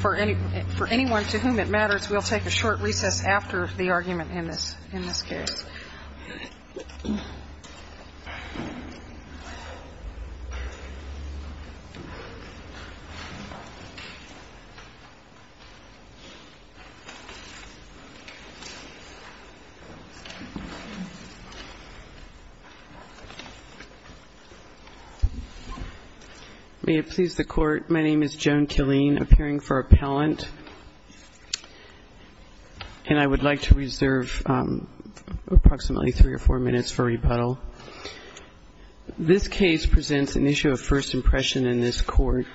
For anyone to whom it matters, we will take a short recess after the argument in this case. May it please the Court, my name is Joan Killeen, appearing for appellant. And I would like to reserve approximately three or four minutes for rebuttal. This case presents an issue of first impression in this Court.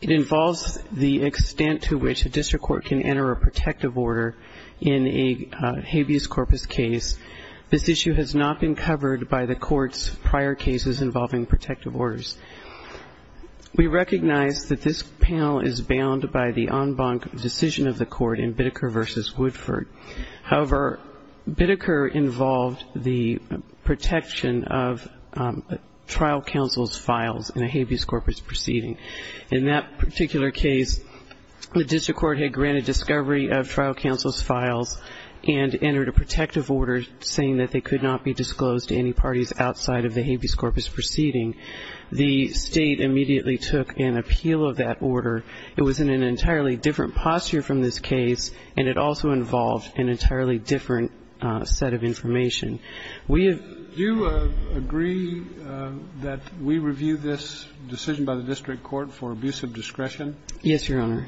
It involves the extent to which a district court can enter a protective order in a habeas corpus case. This issue has not been covered by the Court's prior cases involving protective orders. We recognize that this panel is bound by the en banc decision of the Court in Bideker v. Woodford. However, Bideker involved the protection of trial counsel's files in a habeas corpus proceeding. In that particular case, the district court had granted discovery of trial counsel's files and entered a protective order saying that they could not be disclosed to any parties outside of the habeas corpus proceeding. The State immediately took an appeal of that order. It was in an entirely different posture from this case, and it also involved an entirely different set of information. Do you agree that we review this decision by the district court for abuse of discretion? Yes, Your Honor.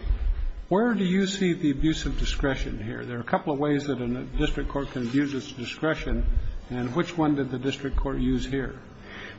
Where do you see the abuse of discretion here? There are a couple of ways that a district court can abuse its discretion, and which one did the district court use here?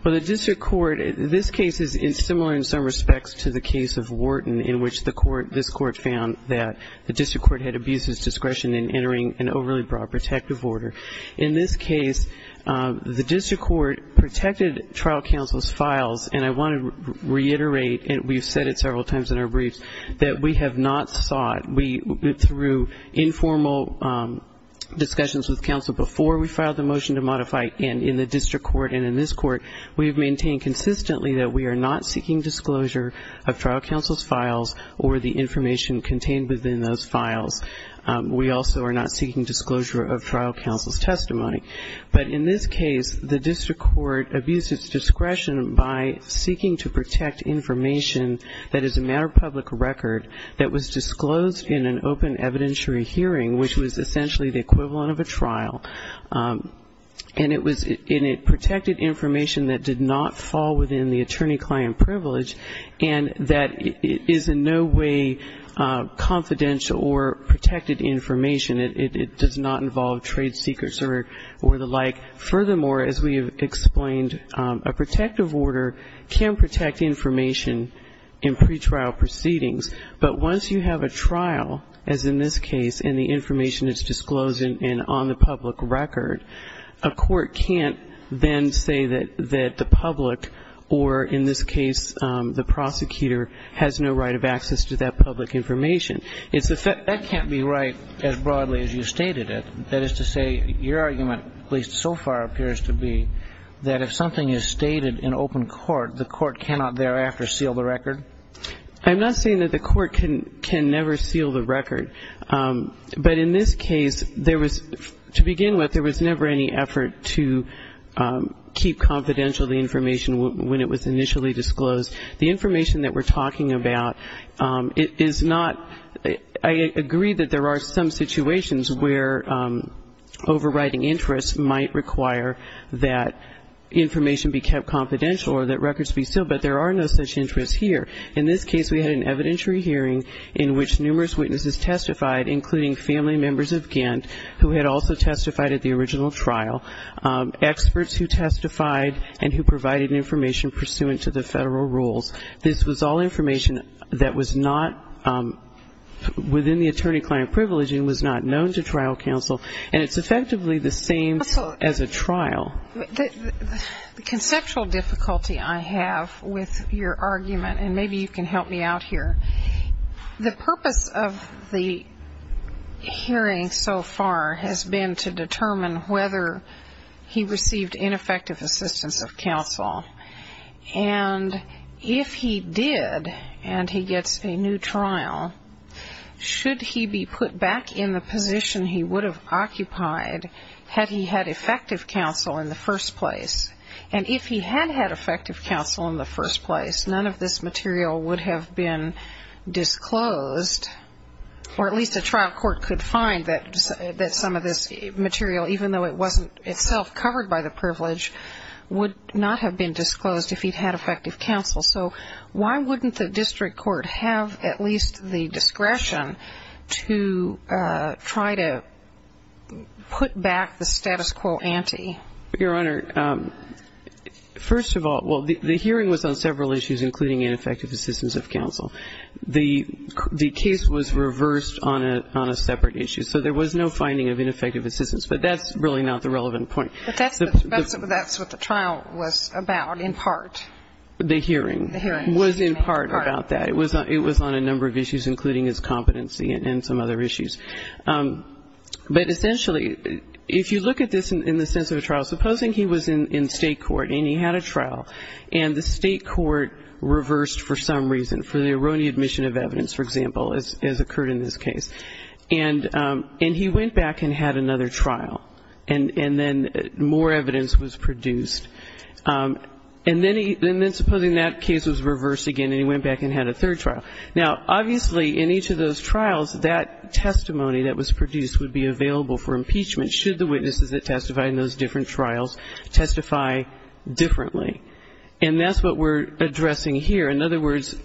Well, the district court, this case is similar in some respects to the case of Wharton in which the Court, this Court found that the district court had abused its discretion in entering an overly broad protective order. In this case, the district court protected trial counsel's files, and I want to reiterate, and we've said it several times in our briefs, that we have not sought, through informal discussions with counsel before we filed the motion to modify it, and in the district court and in this court, we have maintained consistently that we are not seeking disclosure of trial counsel's files or the information contained within those files. We also are not seeking disclosure of trial counsel's testimony. But in this case, the district court abused its discretion by seeking to protect information that is a matter of public record that was disclosed in an open evidentiary hearing, which was essentially the equivalent of a trial, and it protected information that did not fall within the attorney-client privilege and that is in no way confidential or protected information. It does not involve trade secrets or the like. Furthermore, as we have explained, a protective order can protect information in pretrial proceedings, but once you have a trial, as in this case, and the information is disclosed and on the public record, a court can't then say that the public or, in this case, the prosecutor has no right of access to that public information. That can't be right as broadly as you stated it. That is to say, your argument, at least so far, appears to be that if something is stated in open court, the court cannot thereafter seal the record? I'm not saying that the court can never seal the record, but in this case, there was, to begin with, there was never any effort to keep confidential the information when it was initially disclosed. The information that we're talking about is not, I agree that there are some situations where overriding interest might require that information be kept confidential or that records be sealed, but there are no such interests here. In this case, we had an evidentiary hearing in which numerous witnesses testified, including family members of Ghent, who had also testified at the original trial, experts who testified and who provided information pursuant to the federal rules. This was all information that was not within the attorney-client privilege and was not known to trial counsel, and it's effectively the same as a trial. The conceptual difficulty I have with your argument, and maybe you can help me out here, the purpose of the hearing so far has been to determine whether he received ineffective assistance of counsel, and if he did and he gets a new trial, should he be put back in the position he would have occupied had he had effective counsel in the first place? And if he had had effective counsel in the first place, none of this material would have been disclosed, or at least a trial court could find that some of this material, even though it wasn't itself covered by the privilege, would not have been disclosed if he'd had effective counsel. So why wouldn't the district court have at least the discretion to try to put back the status quo ante? Your Honor, first of all, well, the hearing was on several issues including ineffective assistance of counsel. The case was reversed on a separate issue, so there was no finding of ineffective assistance, but that's really not the relevant point. But that's what the trial was about in part. The hearing was in part about that. It was on a number of issues, including his competency and some other issues. But essentially, if you look at this in the sense of a trial, supposing he was in state court and he had a trial, and the state court reversed for some reason, for the erroneous admission of evidence, for example, as occurred in this case. And he went back and had another trial, and then more evidence was produced. And then supposing that case was reversed again, and he went back and had a third trial. Now, obviously, in each of those trials, that testimony that was produced would be available for impeachment, should the witnesses that testified in those different trials testify differently. And that's what we're addressing here. In other words,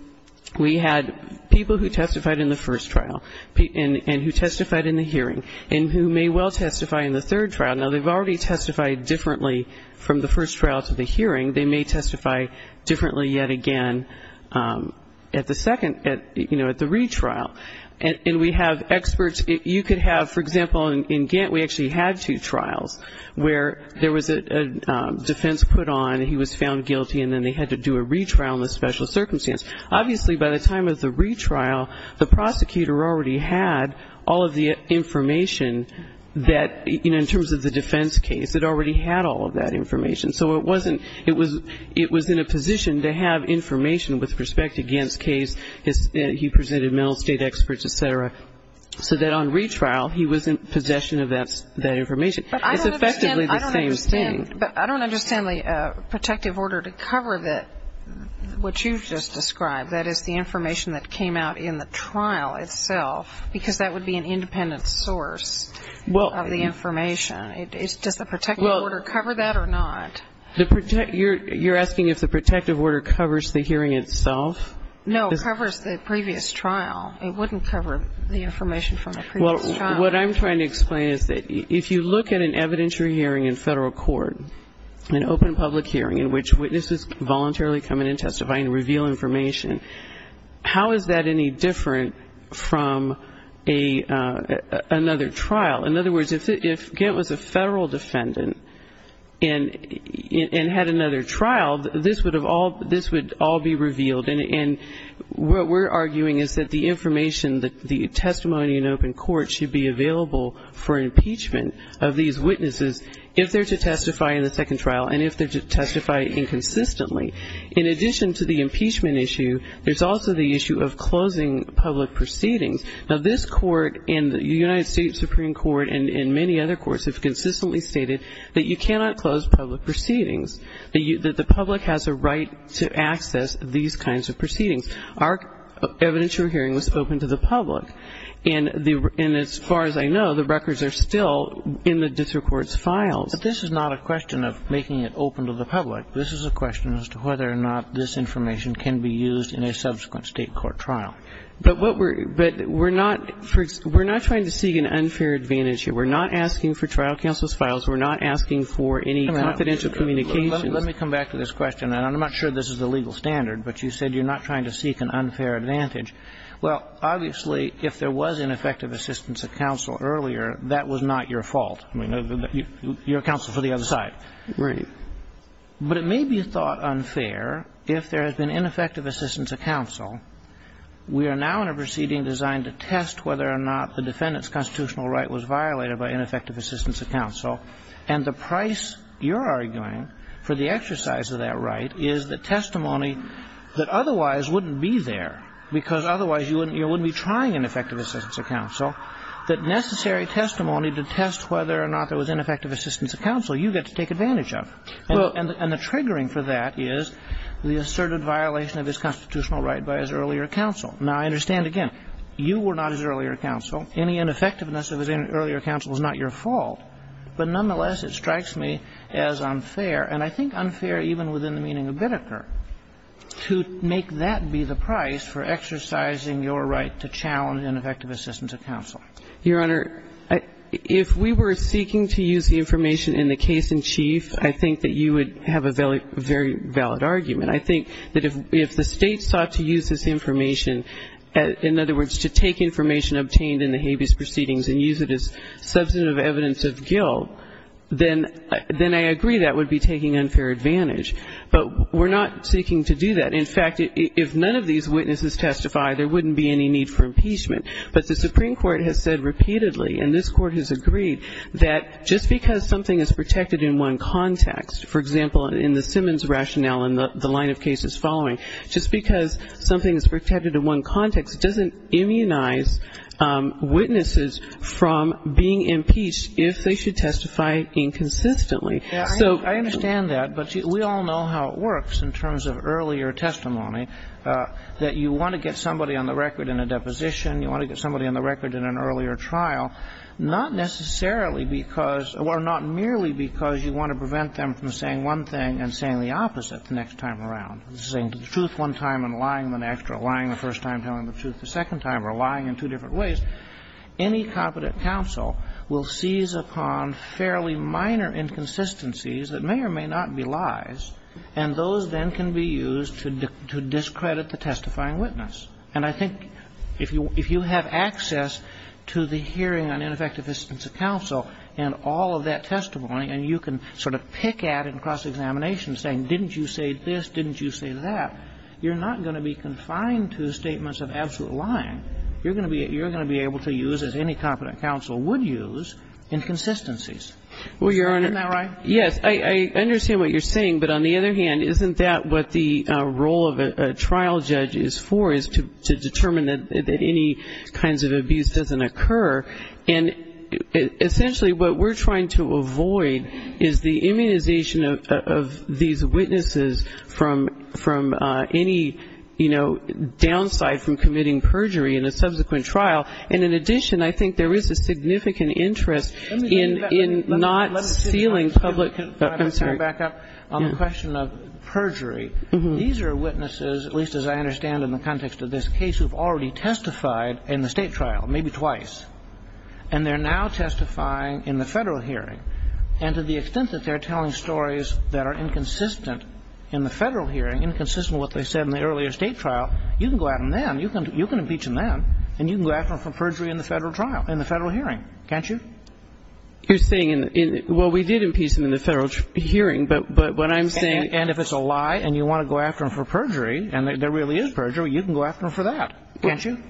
we had people who testified in the first trial and who testified in the hearing and who may well testify in the third trial. Now, they've already testified differently from the first trial to the hearing. They may testify differently yet again at the second, you know, at the retrial. And we have experts. You could have, for example, in Gantt, we actually had two trials, where there was a defense put on, he was found guilty, and then they had to do a retrial in a special circumstance. Obviously, by the time of the retrial, the prosecutor already had all of the information that, you know, in terms of the defense case, it already had all of that information. So it wasn't, it was in a position to have information with respect to Gantt's case. He presented mental state experts, et cetera, so that on retrial he was in possession of that information. It's effectively the same thing. But I don't understand the protective order to cover what you've just described, that is the information that came out in the trial itself, because that would be an independent source of the information. Does the protective order cover that or not? You're asking if the protective order covers the hearing itself? No, it covers the previous trial. It wouldn't cover the information from the previous trial. Well, what I'm trying to explain is that if you look at an evidentiary hearing in Federal court, an open public hearing in which witnesses voluntarily come in and testify and reveal information, how is that any different from another trial? In other words, if Gantt was a Federal defendant and had another trial, this would all be revealed. And what we're arguing is that the information, the testimony in open court should be available for impeachment of these witnesses if they're to testify in the second trial and if they're to testify inconsistently. In addition to the impeachment issue, there's also the issue of closing public proceedings. Now, this Court and the United States Supreme Court and many other courts have consistently stated that you cannot close public proceedings, that the public has a right to access these kinds of proceedings. Our evidentiary hearing was open to the public. And as far as I know, the records are still in the district court's files. But this is not a question of making it open to the public. This is a question as to whether or not this information can be used in a subsequent state court trial. But what we're – but we're not – we're not trying to seek an unfair advantage here. We're not asking for trial counsel's files. We're not asking for any confidential communications. Let me come back to this question, and I'm not sure this is the legal standard, but you said you're not trying to seek an unfair advantage. Well, obviously, if there was ineffective assistance of counsel earlier, that was not your fault. I mean, you're counsel for the other side. Right. But it may be thought unfair if there has been ineffective assistance of counsel. We are now in a proceeding designed to test whether or not the defendant's constitutional right was violated by ineffective assistance of counsel. And the price, you're arguing, for the exercise of that right is the testimony that otherwise wouldn't be there, because otherwise you wouldn't be trying ineffective assistance of counsel, that necessary testimony to test whether or not there was ineffective assistance of counsel you get to take advantage of. And the triggering for that is the asserted violation of his constitutional right by his earlier counsel. Now, I understand, again, you were not his earlier counsel. Any ineffectiveness of his earlier counsel is not your fault. But nonetheless, it strikes me as unfair, and I think unfair even within the meaning of Biddeker, to make that be the price for exercising your right to challenge ineffective assistance of counsel. Your Honor, if we were seeking to use the information in the case in chief, I think that you would have a very valid argument. I think that if the State sought to use this information, in other words, to take information obtained in the habeas proceedings and use it as substantive evidence of guilt, then I agree that would be taking unfair advantage. But we're not seeking to do that. In fact, if none of these witnesses testify, there wouldn't be any need for impeachment. But the Supreme Court has said repeatedly, and this Court has agreed, that just because something is protected in one context, for example, in the Simmons rationale and the line of cases following, just because something is protected in one context doesn't immunize witnesses from being impeached if they should testify inconsistently. So we all know how it works in terms of earlier testimony, that you want to get somebody on the record in a deposition, you want to get somebody on the record in an earlier trial, not necessarily because or not merely because you want to prevent them from saying one thing and saying the opposite the next time around, saying the truth one time and lying the next or lying the first time, telling the truth the second time or lying in two different ways, any competent counsel will seize upon fairly minor inconsistencies that may or may not be lies, and those then can be used to discredit the testifying witness. And I think if you have access to the hearing on ineffective assistance of counsel and all of that testimony, and you can sort of pick at and cross-examination saying, didn't you say this, didn't you say that, you're not going to be confined to statements of absolute lying. You're going to be able to use, as any competent counsel would use, inconsistencies. Isn't that right? Yes. I understand what you're saying. But on the other hand, isn't that what the role of a trial judge is for, is to determine that any kinds of abuse doesn't occur? And essentially what we're trying to avoid is the immunization of these witnesses from any, you know, downside from committing perjury in a subsequent trial. And in addition, I think there is a significant interest in not sealing public confidentiality. Let me back up on the question of perjury. These are witnesses, at least as I understand in the context of this case, who have already testified in the State trial, maybe twice. And they're now testifying in the Federal hearing. And to the extent that they're telling stories that are inconsistent in the Federal hearing, inconsistent with what they said in the earlier State trial, you can go out and impeach them then. You can impeach them then. And you can go after them for perjury in the Federal trial, in the Federal hearing. Can't you? You're saying in the – well, we did impeach them in the Federal hearing. But what I'm saying – And if it's a lie and you want to go after them for perjury, and there really is perjury, you can go after them for that. Can't you?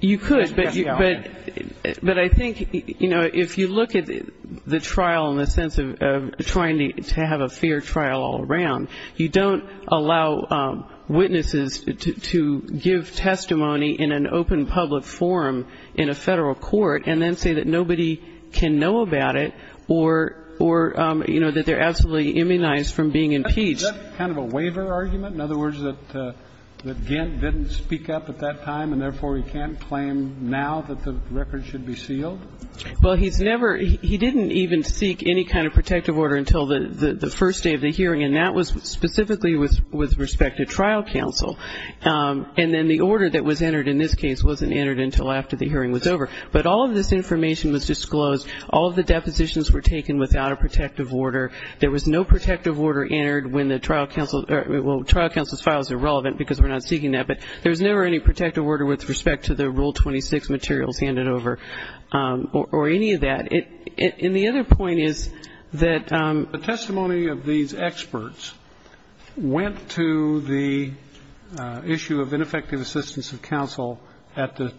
You could. But I think, you know, if you look at the trial in the sense of trying to have a fair trial all around, you don't allow witnesses to give testimony in an open public forum in a Federal court and then say that nobody can know about it or, you know, that they're absolutely immunized from being impeached. Is that kind of a waiver argument? In other words, that Gant didn't speak up at that time, and therefore he can't claim now that the record should be sealed? Well, he's never – he didn't even seek any kind of protective order until the first day of the hearing, and that was specifically with respect to trial counsel. And then the order that was entered in this case wasn't entered until after the hearing was over. But all of this information was disclosed. All of the depositions were taken without a protective order. There was no protective order entered when the trial counsel – well, trial counsel's files are relevant because we're not seeking that. But there was never any protective order with respect to the Rule 26 materials handed over or any of that. And the other point is that – The testimony of these experts went to the issue of ineffective assistance of counsel at the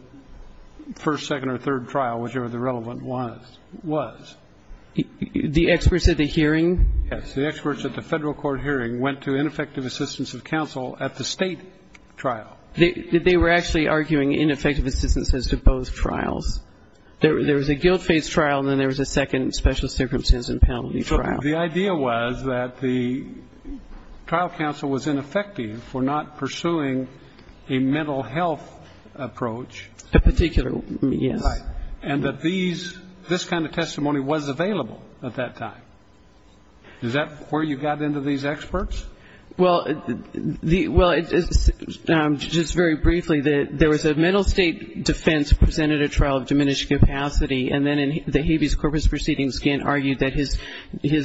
first, second or third trial, whichever the relevant one was. The experts at the hearing? Yes. The experts at the Federal court hearing went to ineffective assistance of counsel at the State trial. They were actually arguing ineffective assistance as to both trials. There was a guilt-faced trial, and then there was a second special circumstances and penalty trial. So the idea was that the trial counsel was ineffective for not pursuing a mental health approach. A particular – yes. Right. And that these – this kind of testimony was available at that time. Is that where you got into these experts? Well, the – well, just very briefly, there was a mental state defense presented at trial of diminished capacity, and then in the habeas corpus proceedings, Gant argued that his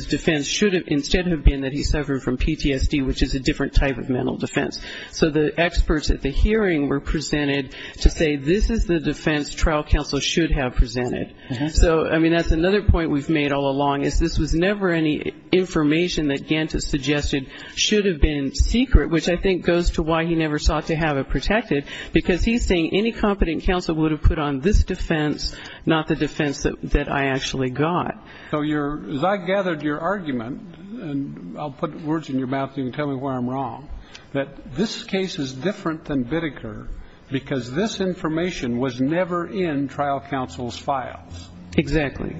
defense should have – instead have been that he suffered from PTSD, which is a different type of mental defense. So the experts at the hearing were presented to say this is the defense trial counsel should have presented. So, I mean, that's another point we've made all along, is this was never any information that Gant has suggested should have been secret, which I think goes to why he never sought to have it protected, because he's saying any competent counsel would have put on this defense, not the defense that I actually got. So you're – as I gathered your argument, and I'll put words in your mouth so you can tell me where I'm wrong, that this case is different than Bideker because this information was never in trial counsel's files. Exactly.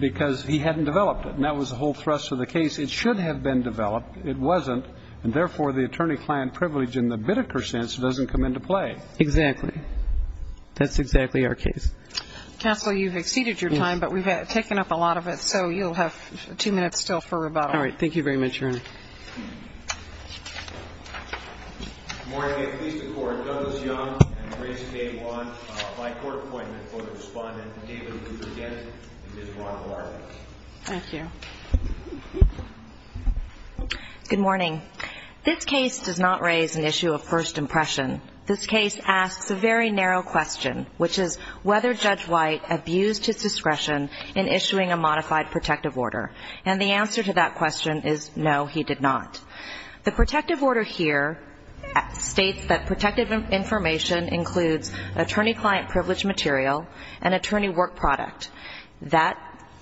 Because he hadn't developed it. And that was the whole thrust of the case. It should have been developed. It wasn't. And therefore, the attorney-client privilege in the Bideker sense doesn't come into play. Exactly. That's exactly our case. Counsel, you've exceeded your time, but we've taken up a lot of it, so you'll have two minutes still for rebuttal. All right. Thank you very much, Your Honor. Good morning. May it please the Court, Justice Young and Grace K. Wong, a by-court appointment for the Respondent. And, David, if we could get Ms. Wong to our desk. Thank you. Good morning. This case does not raise an issue of first impression. This case asks a very narrow question, which is whether Judge White abused his discretion in issuing a modified protective order. And the answer to that question is no, he did not. The protective order here states that protective information includes attorney-client privilege material and attorney work product.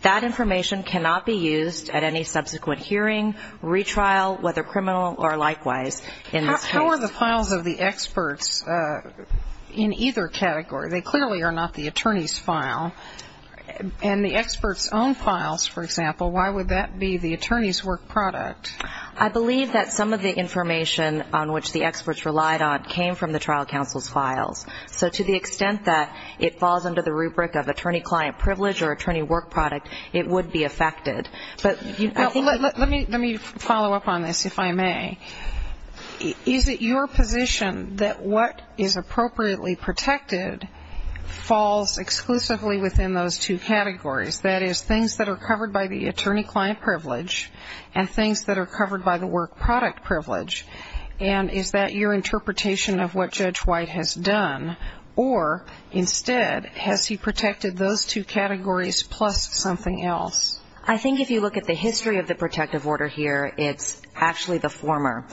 That information cannot be used at any subsequent hearing, retrial, whether criminal or likewise in this case. How are the files of the experts in either category? They clearly are not the attorney's file. And the experts' own files, for example, why would that be the attorney's work product? I believe that some of the information on which the experts relied on came from the trial counsel's files. So to the extent that it falls under the rubric of attorney-client privilege or attorney work product, it would be affected. Let me follow up on this, if I may. Is it your position that what is appropriately protected falls exclusively within those two categories, that is, things that are covered by the attorney-client privilege and things that are covered by the work product privilege? And is that your interpretation of what Judge White has done? Or instead, has he protected those two categories plus something else? I think if you look at the history of the protective order here, it's actually the former.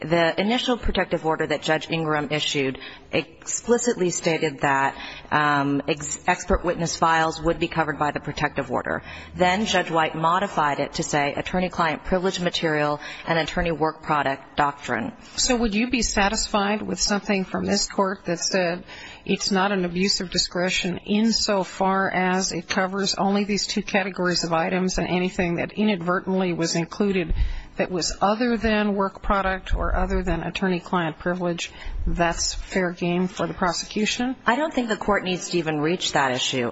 The initial protective order that Judge Ingram issued explicitly stated that expert witness files would be covered by the protective order. Then Judge White modified it to say attorney-client privilege material and attorney work product doctrine. So would you be satisfied with something from this court that said it's not an abuse of discretion insofar as it covers only these two categories of items and anything that inadvertently was included that was other than work product or other than attorney-client privilege, that's fair game for the prosecution? I don't think the court needs to even reach that issue.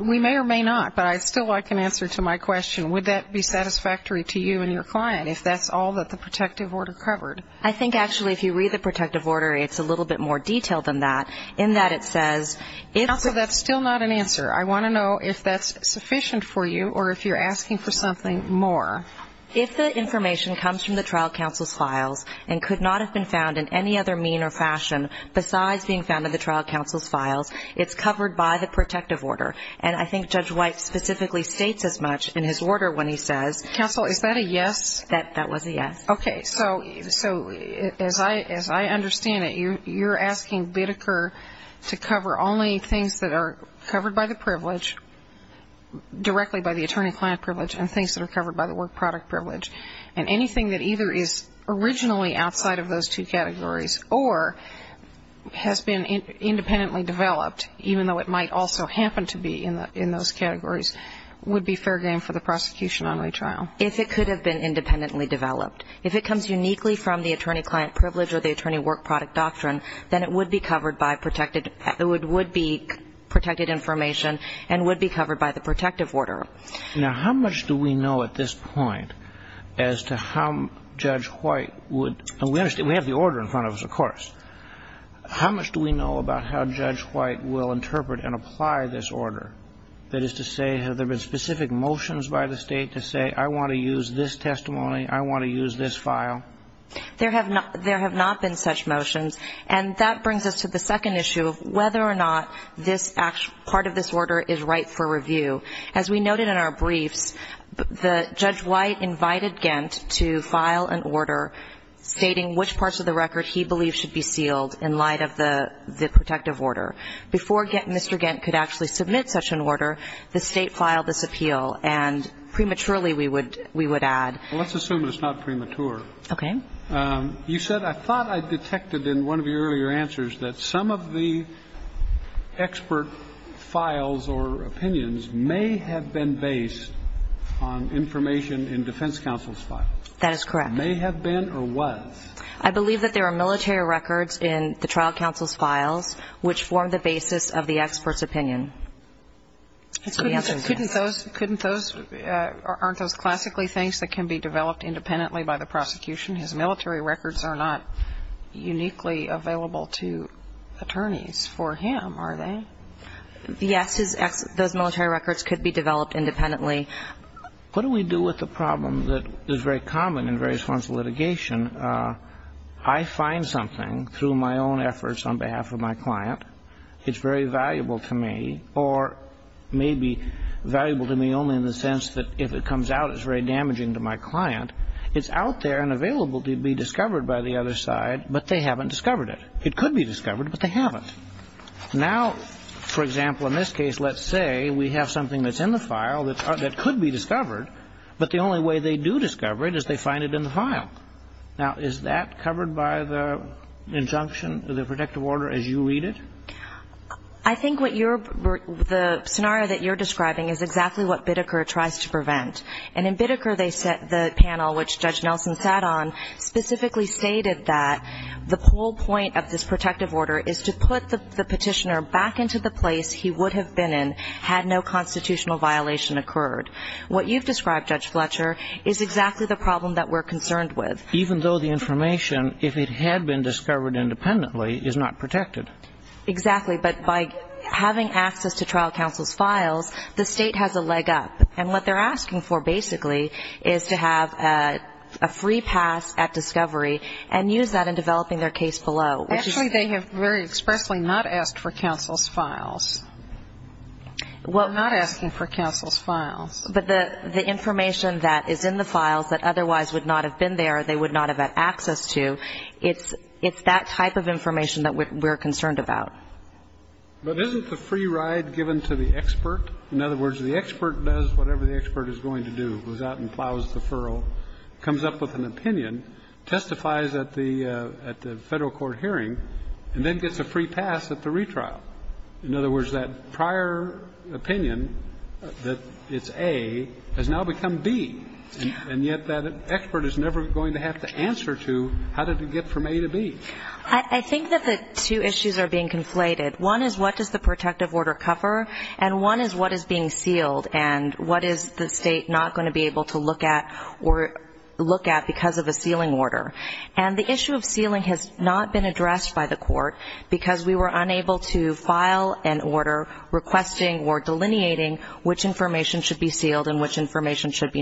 We may or may not, but I'd still like an answer to my question. Would that be satisfactory to you and your client if that's all that the protective order covered? I think actually if you read the protective order, it's a little bit more detailed than that in that it says Also, that's still not an answer. I want to know if that's sufficient for you or if you're asking for something more. If the information comes from the trial counsel's files and could not have been found in any other mean or fashion besides being found in the trial counsel's files, it's covered by the protective order. And I think Judge White specifically states as much in his order when he says Counsel, is that a yes? That was a yes. Okay. So as I understand it, you're asking Bideker to cover only things that are covered by the privilege, directly by the attorney-client privilege, and things that are covered by the work product privilege. And anything that either is originally outside of those two categories or has been independently developed, even though it might also happen to be in those categories, would be fair game for the prosecution on retrial. If it could have been independently developed. If it comes uniquely from the attorney-client privilege or the attorney-work product doctrine, then it would be protected information and would be covered by the protective order. Now, how much do we know at this point as to how Judge White would – and we have the order in front of us, of course. How much do we know about how Judge White will interpret and apply this order? That is to say, have there been specific motions by the State to say, I want to use this testimony, I want to use this file? There have not been such motions. And that brings us to the second issue of whether or not part of this order is right for review. As we noted in our briefs, Judge White invited Gent to file an order stating which parts of the record he believed should be sealed in light of the protective order. Before Mr. Gent could actually submit such an order, the State filed this appeal. And prematurely, we would add – Well, let's assume it's not premature. Okay. You said, I thought I detected in one of your earlier answers that some of the expert files or opinions may have been based on information in defense counsel's files. That is correct. May have been or was. I believe that there are military records in the trial counsel's files which form the basis of the expert's opinion. Couldn't those – aren't those classically things that can be developed independently by the prosecution? His military records are not uniquely available to attorneys for him, are they? Yes. Those military records could be developed independently. What do we do with the problem that is very common in various forms of litigation? I find something through my own efforts on behalf of my client. It's very valuable to me or maybe valuable to me only in the sense that if it comes out, it's very damaging to my client. It's out there and available to be discovered by the other side, but they haven't discovered it. It could be discovered, but they haven't. Now, for example, in this case, let's say we have something that's in the file that could be discovered, but the only way they do discover it is they find it in the file. Now, is that covered by the injunction, the protective order, as you read it? I think what you're – the scenario that you're describing is exactly what Bitteker tries to prevent. And in Bitteker, the panel, which Judge Nelson sat on, specifically stated that the whole point of this protective order is to put the petitioner back into the place he would have been in had no constitutional violation occurred. What you've described, Judge Fletcher, is exactly the problem that we're concerned with. Even though the information, if it had been discovered independently, is not protected. Exactly. But by having access to trial counsel's files, the state has a leg up. And what they're asking for, basically, is to have a free pass at discovery and use that in developing their case below, which is – Actually, they have very expressly not asked for counsel's files. Well – They're not asking for counsel's files. But the information that is in the files that otherwise would not have been there, they would not have had access to, it's that type of information that we're concerned about. But isn't the free ride given to the expert? In other words, the expert does whatever the expert is going to do. Goes out and plows the furrow, comes up with an opinion, testifies at the Federal Court hearing, and then gets a free pass at the retrial. In other words, that prior opinion, that it's A, has now become B. And yet that expert is never going to have to answer to how did it get from A to B. I think that the two issues are being conflated. One is what does the protective order cover, and one is what is being sealed and what is the State not going to be able to look at because of a sealing order. And the issue of sealing has not been addressed by the Court because we were unable to file an order requesting or delineating which information should be sealed and which information should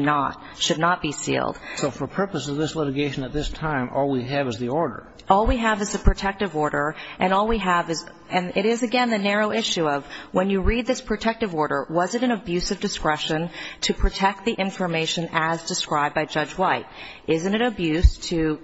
not be sealed. So for purposes of this litigation at this time, all we have is the order. And all we have is, and it is, again, the narrow issue of when you read this protective order, was it an abuse of discretion to protect the information as described by Judge White? Isn't it abuse to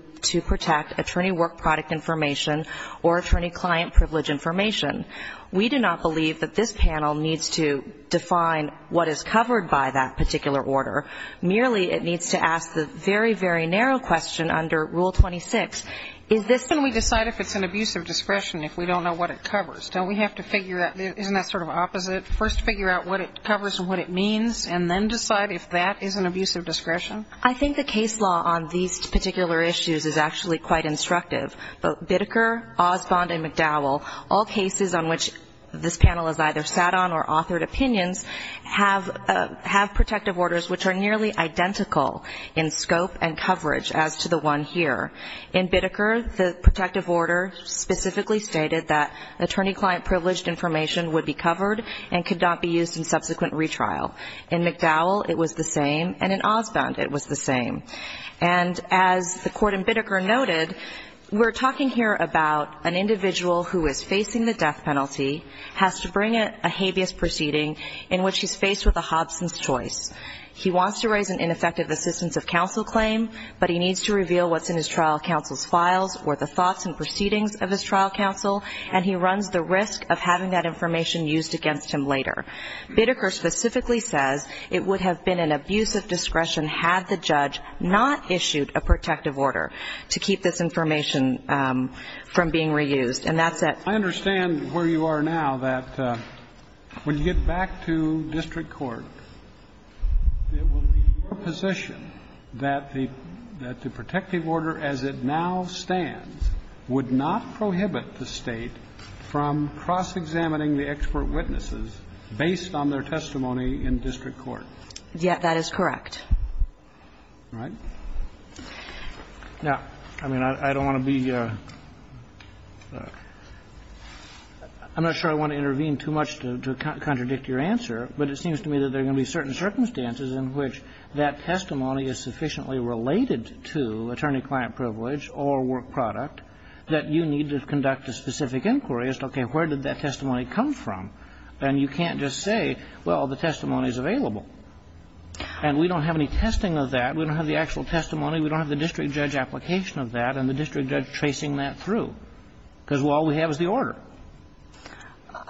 protect attorney work product information or attorney client privilege information? We do not believe that this panel needs to define what is covered by that particular order. Merely it needs to ask the very, very narrow question under Rule 26. Can we decide if it's an abuse of discretion if we don't know what it covers? Don't we have to figure out, isn't that sort of opposite, first figure out what it covers and what it means and then decide if that is an abuse of discretion? I think the case law on these particular issues is actually quite instructive. Both Biddeker, Osbond, and McDowell, all cases on which this panel has either sat on or authored opinions have protective orders which are nearly identical in scope and coverage as to the one here. In Biddeker, the protective order specifically stated that attorney client privileged information would be covered and could not be used in subsequent retrial. In McDowell, it was the same, and in Osbond, it was the same. And as the court in Biddeker noted, we're talking here about an individual who is facing the death penalty, has to bring a habeas proceeding in which he's faced with a Hobson's choice. He wants to raise an ineffective assistance of counsel claim, but he needs to reveal what's in his trial counsel's files or the thoughts and proceedings of his trial counsel, and he runs the risk of having that information used against him later. Biddeker specifically says it would have been an abuse of discretion had the judge not issued a protective order to keep this information from being reused. And that's it. I understand where you are now, that when you get back to district court, it will be your position that the protective order as it now stands would not prohibit the State from cross-examining the expert witnesses based on their testimony in district court. Yes, that is correct. All right. Now, I mean, I don't want to be – I'm not sure I want to intervene too much to contradict your answer, but it seems to me that there are going to be certain circumstances in which that testimony is sufficiently related to attorney-client privilege or work product that you need to conduct a specific inquiry as to, okay, where did that testimony come from, and you can't just say, well, the testimony is available. And we don't have any testing of that. We don't have the actual testimony. We don't have the district judge application of that and the district judge tracing that through, because all we have is the order.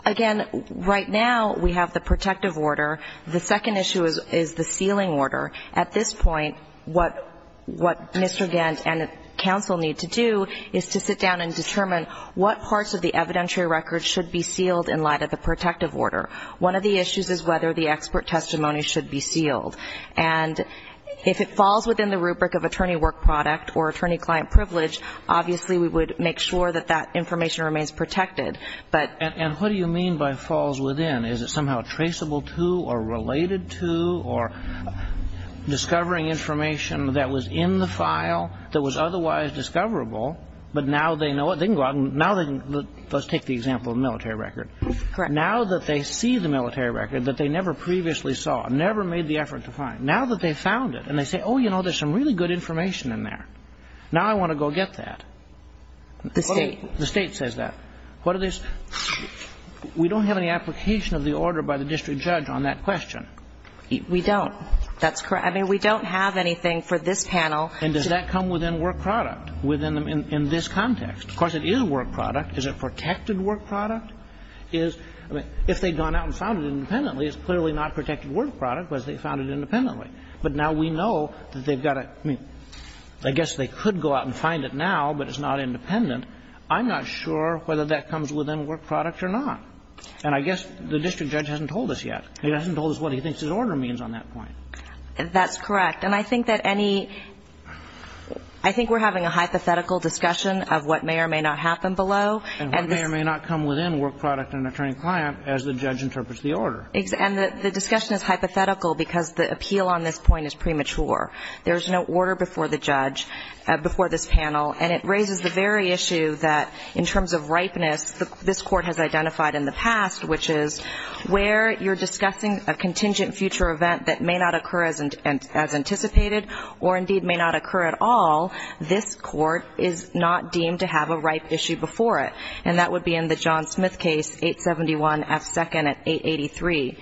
Again, right now, we have the protective order. The second issue is the sealing order. At this point, what Mr. Gant and counsel need to do is to sit down and determine what parts of the evidentiary record should be sealed in light of the protective order. One of the issues is whether the expert testimony should be sealed. And if it falls within the rubric of attorney-work product or attorney-client privilege, obviously, we would make sure that that information remains protected. But – And what do you mean by falls within? Is it somehow traceable to or related to or discovering information that was in the file that was otherwise discoverable, but now they know it? They can go out and – now – let's take the example of military record. Correct. Now that they see the military record that they never previously saw, never made the effort to find, now that they've found it and they say, oh, you know, there's some really good information in there, now I want to go get that. The State. The State says that. What are the – we don't have any application of the order by the district judge on that question. We don't. That's correct. I mean, we don't have anything for this panel. And does that come within work product, within – in this context? Of course, it is work product. Is it protected work product? Is – I mean, if they'd gone out and found it independently, it's clearly not protected work product because they found it independently. But now we know that they've got to – I mean, I guess they could go out and find it now, but it's not independent. I'm not sure whether that comes within work product or not. And I guess the district judge hasn't told us yet. He hasn't told us what he thinks his order means on that point. That's correct. And I think that any – I think we're having a hypothetical discussion of what may or may not happen below. And what may or may not come within work product and attorney-client as the judge interprets the order. And the discussion is hypothetical because the appeal on this point is premature. There's no order before the judge – before this panel. And it raises the very issue that, in terms of ripeness, this Court has identified in the past, which is where you're discussing a contingent future event that may not occur as anticipated or, indeed, may not occur at all, this Court is not deemed to have a ripe issue before it. And that would be in the John Smith case, 871F2nd at 883.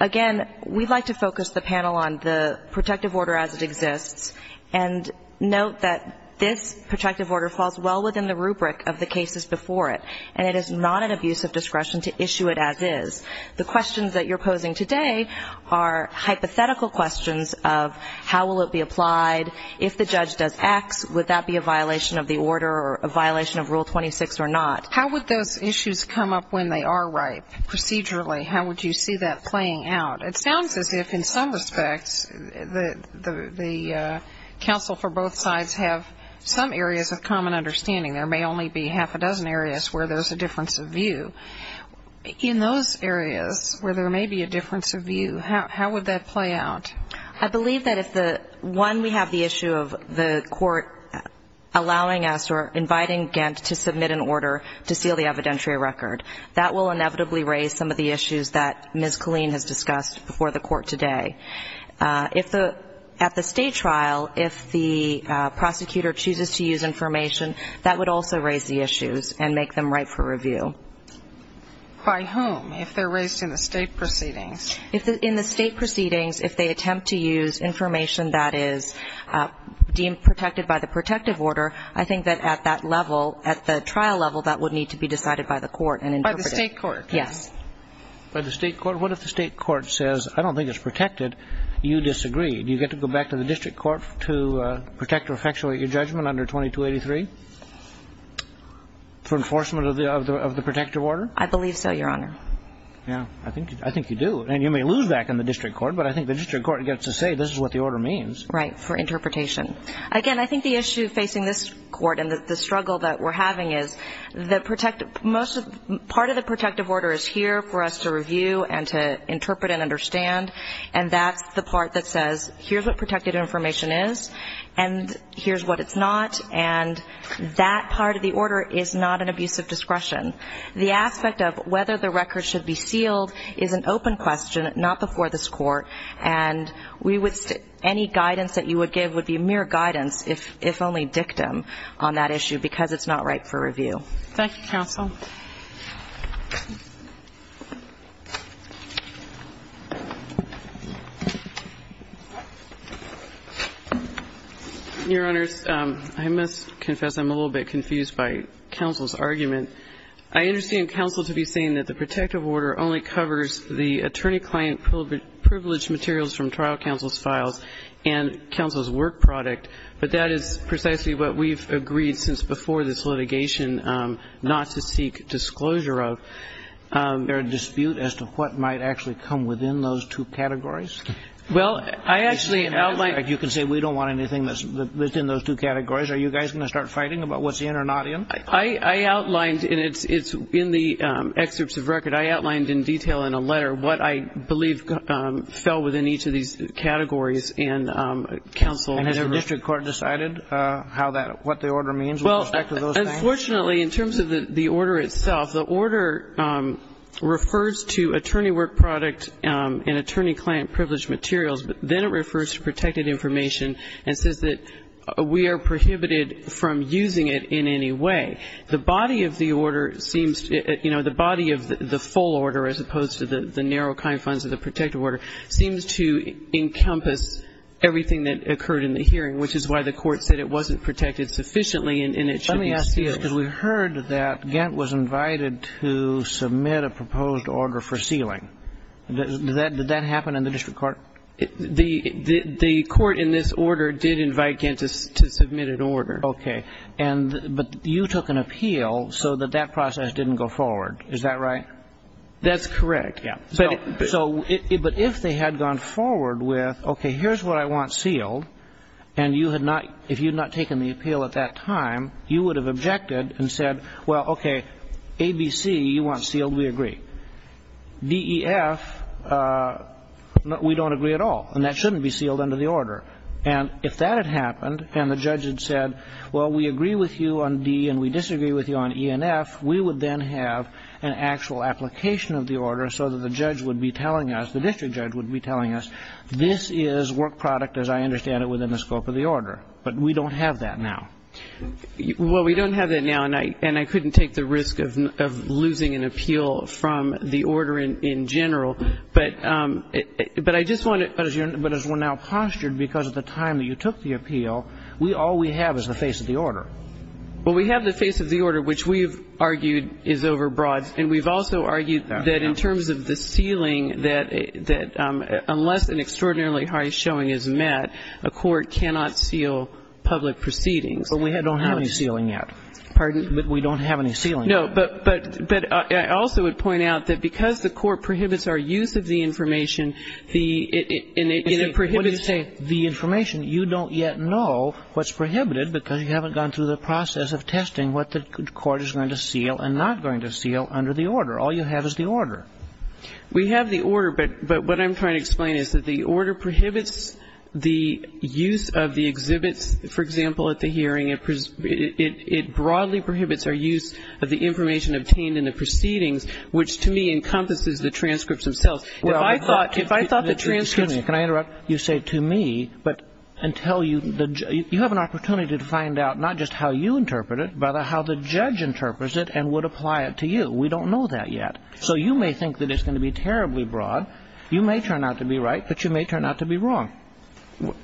Again, we'd like to focus the panel on the protective order as it exists and note that this protective order falls well within the rubric of the cases before it. And it is not an abuse of discretion to issue it as is. The questions that you're posing today are hypothetical questions of how will it be applied? If the judge does X, would that be a violation of the order or a violation of Rule 26 or not? How would those issues come up when they are ripe procedurally? How would you see that playing out? It sounds as if, in some respects, the counsel for both sides have some areas of common understanding. There may only be half a dozen areas where there's a difference of view. In those areas where there may be a difference of view, how would that play out? I believe that if the one we have the issue of the court allowing us or inviting Ghent to submit an order to seal the evidentiary record, that will inevitably raise some of the issues that Ms. Colleen has discussed before the court today. If the at the state trial, if the prosecutor chooses to use information, that would also raise the issues and make them ripe for review. By whom? If they're raised in the state proceedings? In the state proceedings, if they attempt to use information that is deemed protected by the protective order, I think that at that level, at the trial level, that would need to be decided by the court and interpreted. By the state court? Yes. By the state court? What if the state court says, I don't think it's protected, you disagree? Do you get to go back to the district court to protect or effectuate your judgment under 2283 for enforcement of the protective order? I believe so, Your Honor. Yeah, I think you do. And you may lose back in the district court, but I think the district court gets to say, this is what the order means. Right, for interpretation. Again, I think the issue facing this court and the struggle that we're having is that part of the protective order is here for us to review and to interpret and understand, and that's the part that says, here's what protected information is, and here's what it's not, and that part of the order is not an abuse of discretion. The aspect of whether the record should be sealed is an open question, not before this court. And we would, any guidance that you would give would be mere guidance, if only dictum, on that issue, because it's not ripe for review. Thank you, counsel. Your Honors, I must confess I'm a little bit confused by counsel's argument. I understand counsel to be saying that the protective order only covers the attorney client privileged materials from trial counsel's files and counsel's work product, but that is precisely what we've agreed since before this litigation, not to see a dispute as to what might actually come within those two categories? Well, I actually outlined. You can say we don't want anything that's within those two categories. Are you guys going to start fighting about what's in or not in? I outlined, and it's in the excerpts of record. I outlined in detail in a letter what I believe fell within each of these categories and counsel. And has the district court decided how that, what the order means with respect to those things? Well, unfortunately, in terms of the order itself, the order refers to attorney work product and attorney client privileged materials, but then it refers to protected information and says that we are prohibited from using it in any way. The body of the order seems, you know, the body of the full order, as opposed to the narrow kind funds of the protective order, seems to encompass everything that occurred in the hearing, which is why the court said it wasn't protected sufficiently and it should be sealed. Let me ask you this, because we heard that Gantt was invited to submit a proposed order for sealing. Did that happen in the district court? The court in this order did invite Gantt to submit an order. Okay. But you took an appeal so that that process didn't go forward. Is that right? That's correct. Yeah. But if they had gone forward with, okay, here's what I want sealed, and you had not, if you had not taken the appeal at that time, you would have objected and said, well, okay, A, B, C, you want sealed, we agree. D, E, F, we don't agree at all, and that shouldn't be sealed under the order. And if that had happened and the judge had said, well, we agree with you on D and we disagree with you on E and F, we would then have an actual application of the order so that the judge would be telling us, the district judge would be telling us, this is work product, as I understand it, within the scope of the order. But we don't have that now. Well, we don't have that now, and I couldn't take the risk of losing an appeal from the order in general. But I just wanted to ask you, but as we're now postured, because of the time that you took the appeal, all we have is the face of the order. Well, we have the face of the order, which we've argued is over broad, And we've also argued that in terms of the sealing, that unless an extraordinarily high showing is met, a court cannot seal public proceedings. But we don't have any sealing yet. Pardon? We don't have any sealing yet. No. But I also would point out that because the court prohibits our use of the information, and it prohibits saying the information, you don't yet know what's prohibited and not going to seal under the order. All you have is the order. We have the order, but what I'm trying to explain is that the order prohibits the use of the exhibits, for example, at the hearing. It broadly prohibits our use of the information obtained in the proceedings, which to me encompasses the transcripts themselves. If I thought the transcripts... Excuse me. Can I interrupt? You say to me, but until you have an opportunity to find out not just how you interpret it, but how the judge interprets it and would apply it to you. We don't know that yet. So you may think that it's going to be terribly broad. You may turn out to be right, but you may turn out to be wrong.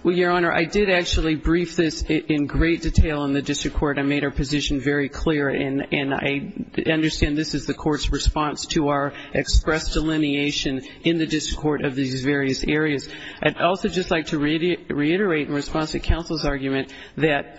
Well, Your Honor, I did actually brief this in great detail in the district court and made our position very clear, and I understand this is the court's response to our express delineation in the district court of these various areas. I'd also just like to reiterate in response to counsel's argument that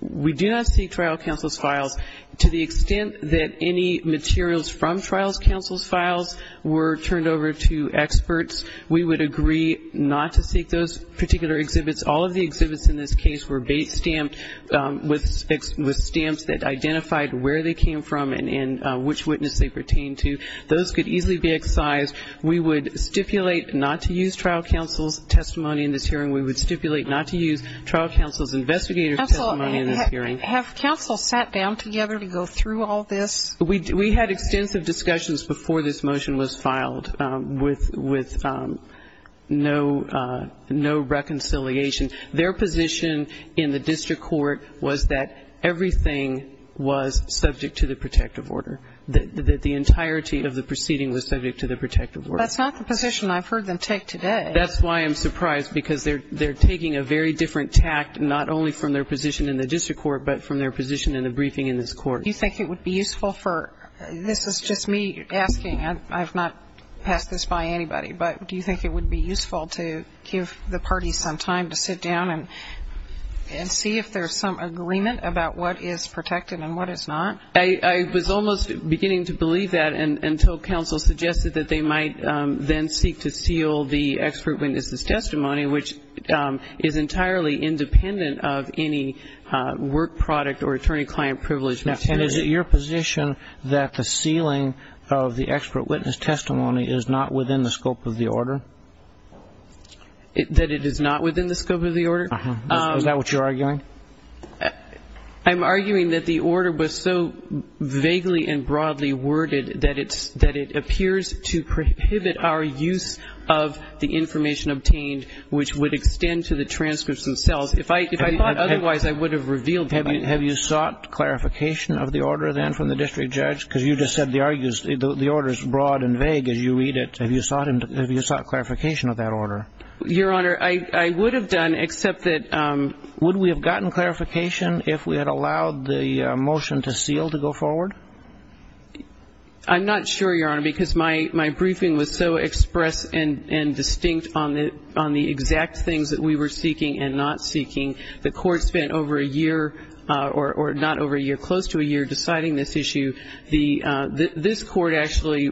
we do not see trial counsel's files. To the extent that any materials from trial counsel's files were turned over to experts, we would agree not to seek those particular exhibits. All of the exhibits in this case were stamped with stamps that identified where they came from and which witness they pertained to. Those could easily be excised. We would stipulate not to use trial counsel's testimony in this hearing. We would stipulate not to use trial counsel's investigator's testimony in this hearing. Have counsel sat down together to go through all this? We had extensive discussions before this motion was filed with no reconciliation. Their position in the district court was that everything was subject to the protective order, that the entirety of the proceeding was subject to the protective order. That's not the position I've heard them take today. That's why I'm surprised, because they're taking a very different tact not only from their position in the district court, but from their position in the briefing in this court. Do you think it would be useful for, this is just me asking, I've not passed this by anybody, but do you think it would be useful to give the parties some time to sit down and see if there's some agreement about what is protected and what is not? I was almost beginning to believe that, until counsel suggested that they might then seek to seal the expert witness's testimony, which is entirely independent of any work product or attorney-client privilege. And is it your position that the sealing of the expert witness testimony is not within the scope of the order? That it is not within the scope of the order? Is that what you're arguing? I'm arguing that the order was so vaguely and broadly worded that it appears to prohibit our use of the information obtained, which would extend to the transcripts themselves. If I thought otherwise, I would have revealed that. Have you sought clarification of the order, then, from the district judge? Because you just said the order is broad and vague as you read it. Have you sought clarification of that order? Your Honor, I would have done, except that would we have gotten clarification if we had allowed the motion to seal to go forward? I'm not sure, Your Honor, because my briefing was so express and distinct on the exact things that we were seeking and not seeking. The Court spent over a year, or not over a year, close to a year, deciding this issue. This Court actually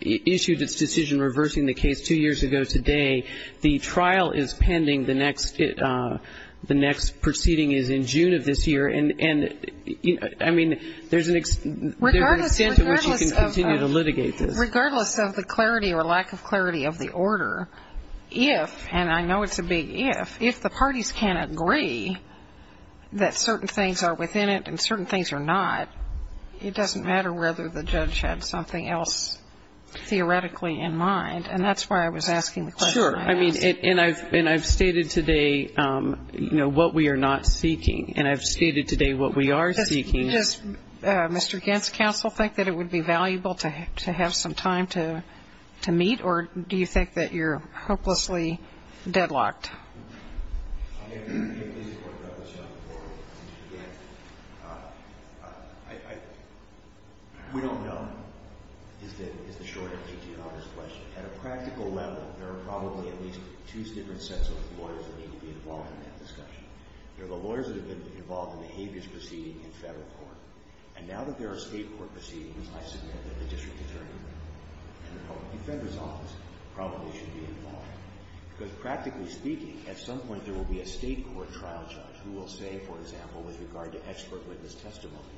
issued its decision reversing the case two years ago today. The trial is pending. The next proceeding is in June of this year. And, I mean, there's an extent to which you can continue to litigate this. Regardless of the clarity or lack of clarity of the order, if, and I know it's a big if, if the parties can agree that certain things are within it and certain things are not, it doesn't matter whether the judge had something else theoretically in mind. And that's why I was asking the question I asked. Sure. And I've stated today, you know, what we are not seeking. And I've stated today what we are seeking. Does Mr. Gantz, counsel, think that it would be valuable to have some time to meet? Or do you think that you're hopelessly deadlocked? I mean, it is important to have this done before we begin. We don't know, is the short answer to Your Honor's question. At a practical level, there are probably at least two different sets of lawyers that need to be involved in that discussion. There are the lawyers that have been involved in the habeas proceeding in federal court. And now that there are state court proceedings, I submit that the district attorney and the public defender's office probably should be involved. Because practically speaking, at some point there will be a state court trial judge who will say, for example, with regard to expert witness testimony,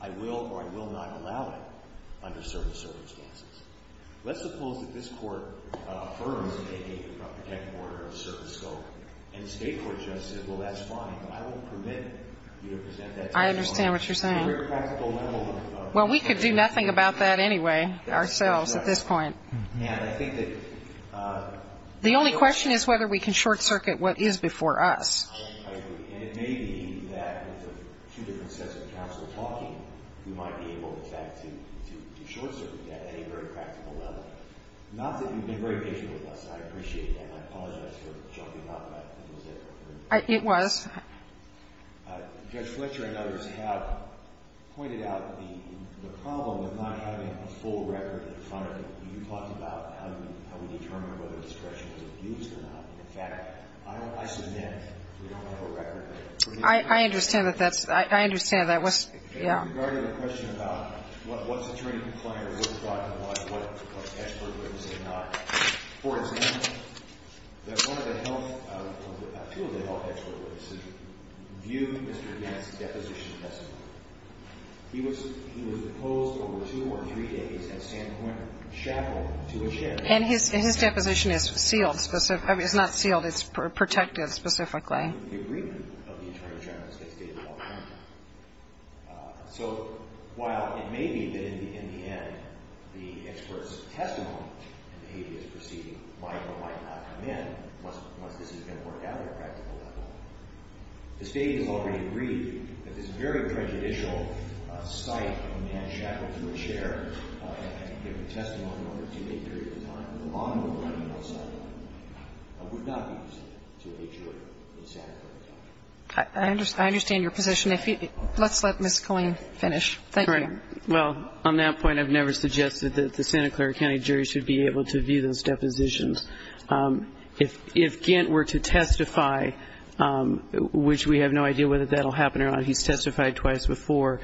I will or I will not allow it under certain circumstances. Let's suppose that this court affirms that they have a protected order of service scope and the state court judge says, well, that's fine, but I won't permit you to present that testimony. I understand what you're saying. At a very practical level. Well, we could do nothing about that anyway ourselves at this point. And I think that the only question is whether we can short circuit what is before us. I agree. And it may be that with the two different sets of counsel talking, we might be able in fact to short circuit that at a very practical level. Not that you've been very patient with us. I appreciate that. I apologize for jumping off, but it was it. It was. Judge Fletcher and others have pointed out the problem with not having a full record in front of you. You talked about how we determine whether discretion was abused or not. In fact, I submit we don't have a record there. I understand that that's – I understand that. Yeah. Regarding the question about what's attorney compliant or what's not compliant, what expert witness is not. For example, that one of the health – two of the health expert witnesses view Mr. Gant's deposition testimony. He was deposed over two or three days at Sandpoint, shackled to a chair. And his deposition is sealed. It's not sealed. It's protected specifically. The agreement of the attorney general is that it's stated all the time. So while it may be that in the end the expert's testimony in the habeas proceeding might or might not come in, once this is going to work out at a practical level, the State has already agreed that this very prejudicial sight of a man shackled to a chair and given testimony over a two-day period of time with a lawnmower running outside the building would not be used to a jury in Santa Clara County. I understand your position. Let's let Ms. Colleen finish. Thank you. All right. Well, on that point, I've never suggested that the Santa Clara County jury should be able to view those depositions. If Gant were to testify, which we have no idea whether that will happen or not, he's testified twice before,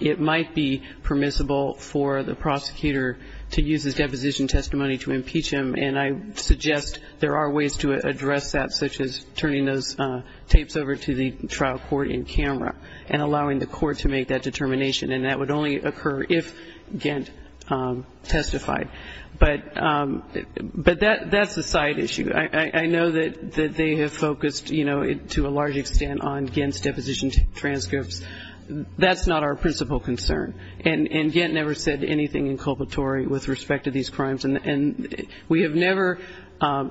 it might be permissible for the prosecutor to use his deposition testimony to impeach him. And I suggest there are ways to address that, such as turning those tapes over to the trial court in camera and allowing the court to make that determination. And that would only occur if Gant testified. But that's a side issue. I know that they have focused, you know, to a large extent on Gant's deposition transcripts. That's not our principal concern. And Gant never said anything inculpatory with respect to these crimes. And we have never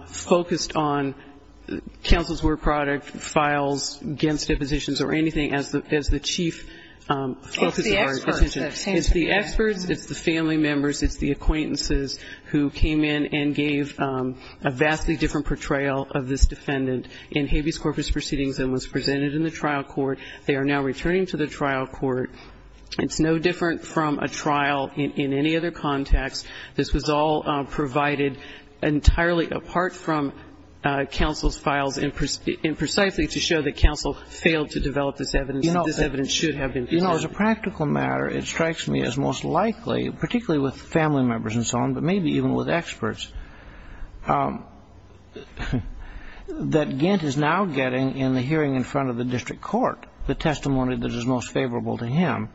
focused on counsel's word product, files against depositions or anything as the chief focus of our position. It's the experts. It's the experts. It's the family members. It's the acquaintances who came in and gave a vastly different portrayal of this defendant in Habeas Corpus proceedings and was presented in the trial court. They are now returning to the trial court. It's no different from a trial in any other context. This was all provided entirely apart from counsel's files and precisely to show that counsel failed to develop this evidence. This evidence should have been presented. You know, as a practical matter, it strikes me as most likely, particularly with family members and so on, but maybe even with experts, that Gant is now getting in the hearing in front of the district court the testimony that is most favorable to him.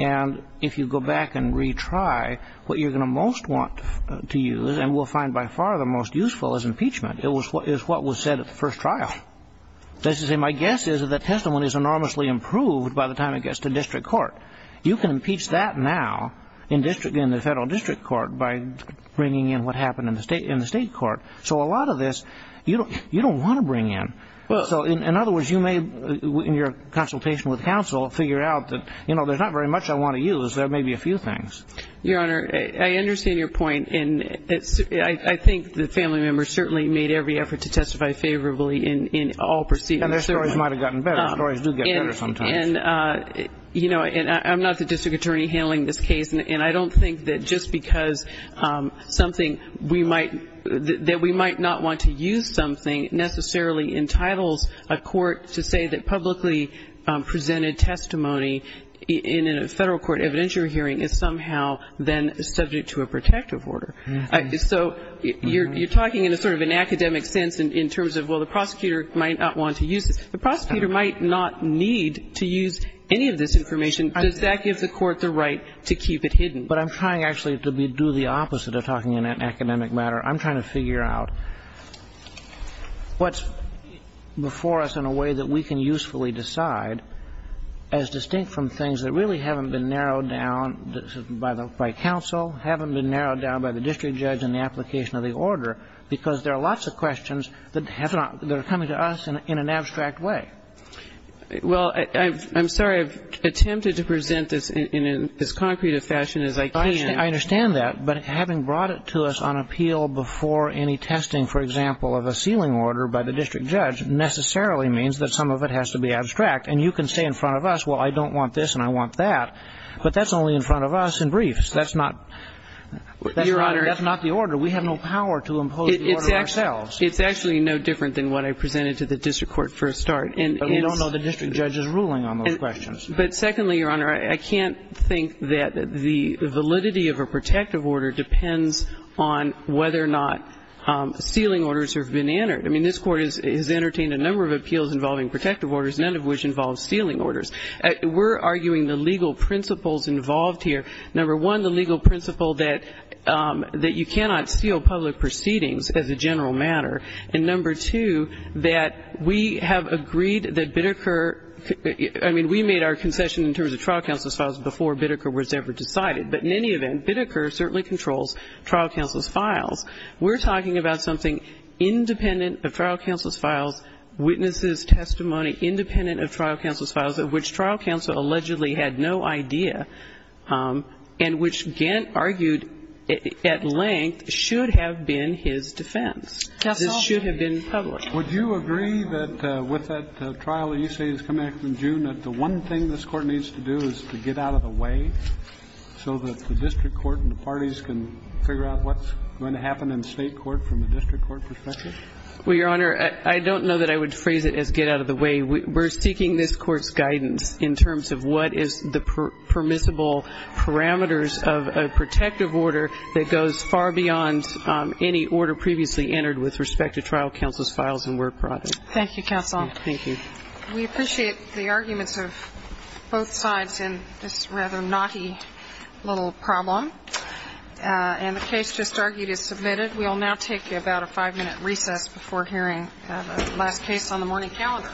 And if you go back and retry, what you're going to most want to use and will find by far the most useful is impeachment, is what was said at the first trial. That is to say, my guess is that the testimony is enormously improved by the time it gets to district court. You can impeach that now in the federal district court by bringing in what happened in the state court. So a lot of this you don't want to bring in. So in other words, you may, in your consultation with counsel, figure out that, you know, there's not very much I want to use. There may be a few things. Your Honor, I understand your point, and I think the family members certainly made every effort to testify favorably in all proceedings. And their stories might have gotten better. Stories do get better sometimes. And, you know, I'm not the district attorney handling this case, and I don't think that just because something we might not want to use something it necessarily entitles a court to say that publicly presented testimony in a federal court evidentiary hearing is somehow then subject to a protective order. So you're talking in a sort of an academic sense in terms of, well, the prosecutor might not want to use this. The prosecutor might not need to use any of this information. Does that give the court the right to keep it hidden? But I'm trying actually to do the opposite of talking in an academic matter. I'm trying to figure out what's before us in a way that we can usefully decide as distinct from things that really haven't been narrowed down by counsel, haven't been narrowed down by the district judge in the application of the order, because there are lots of questions that have not been coming to us in an abstract way. Well, I'm sorry. I've attempted to present this in as concrete a fashion as I can. I understand that, but having brought it to us on appeal before any testing, for example, of a sealing order by the district judge necessarily means that some of it has to be abstract. And you can say in front of us, well, I don't want this and I want that, but that's only in front of us in briefs. That's not the order. We have no power to impose the order ourselves. It's actually no different than what I presented to the district court for a start. But we don't know the district judge's ruling on those questions. But secondly, Your Honor, I can't think that the validity of a protective order depends on whether or not sealing orders have been entered. I mean, this Court has entertained a number of appeals involving protective orders, none of which involve sealing orders. We're arguing the legal principles involved here. Number one, the legal principle that you cannot seal public proceedings as a general matter. And number two, that we have agreed that Bitteker – I mean, we made our concession in terms of trial counsel's files before Bitteker was ever decided. But in any event, Bitteker certainly controls trial counsel's files. We're talking about something independent of trial counsel's files, witnesses' testimony independent of trial counsel's files, of which trial counsel allegedly had no idea and which Gant argued at length should have been his defense. Counsel? This should have been public. Would you agree that with that trial that you say is coming up in June, that the one thing this Court needs to do is to get out of the way so that the district court and the parties can figure out what's going to happen in the state court from the district court perspective? Well, Your Honor, I don't know that I would phrase it as get out of the way. We're seeking this Court's guidance in terms of what is the permissible parameters of a protective order that goes far beyond any order previously entered with respect to trial counsel's files and word product. Thank you, counsel. Thank you. We appreciate the arguments of both sides in this rather knotty little problem. And the case just argued is submitted. We will now take about a five-minute recess before hearing the last case on the morning calendar. Your Honor. This Court stands to recess for five minutes. Thank you. Thank you.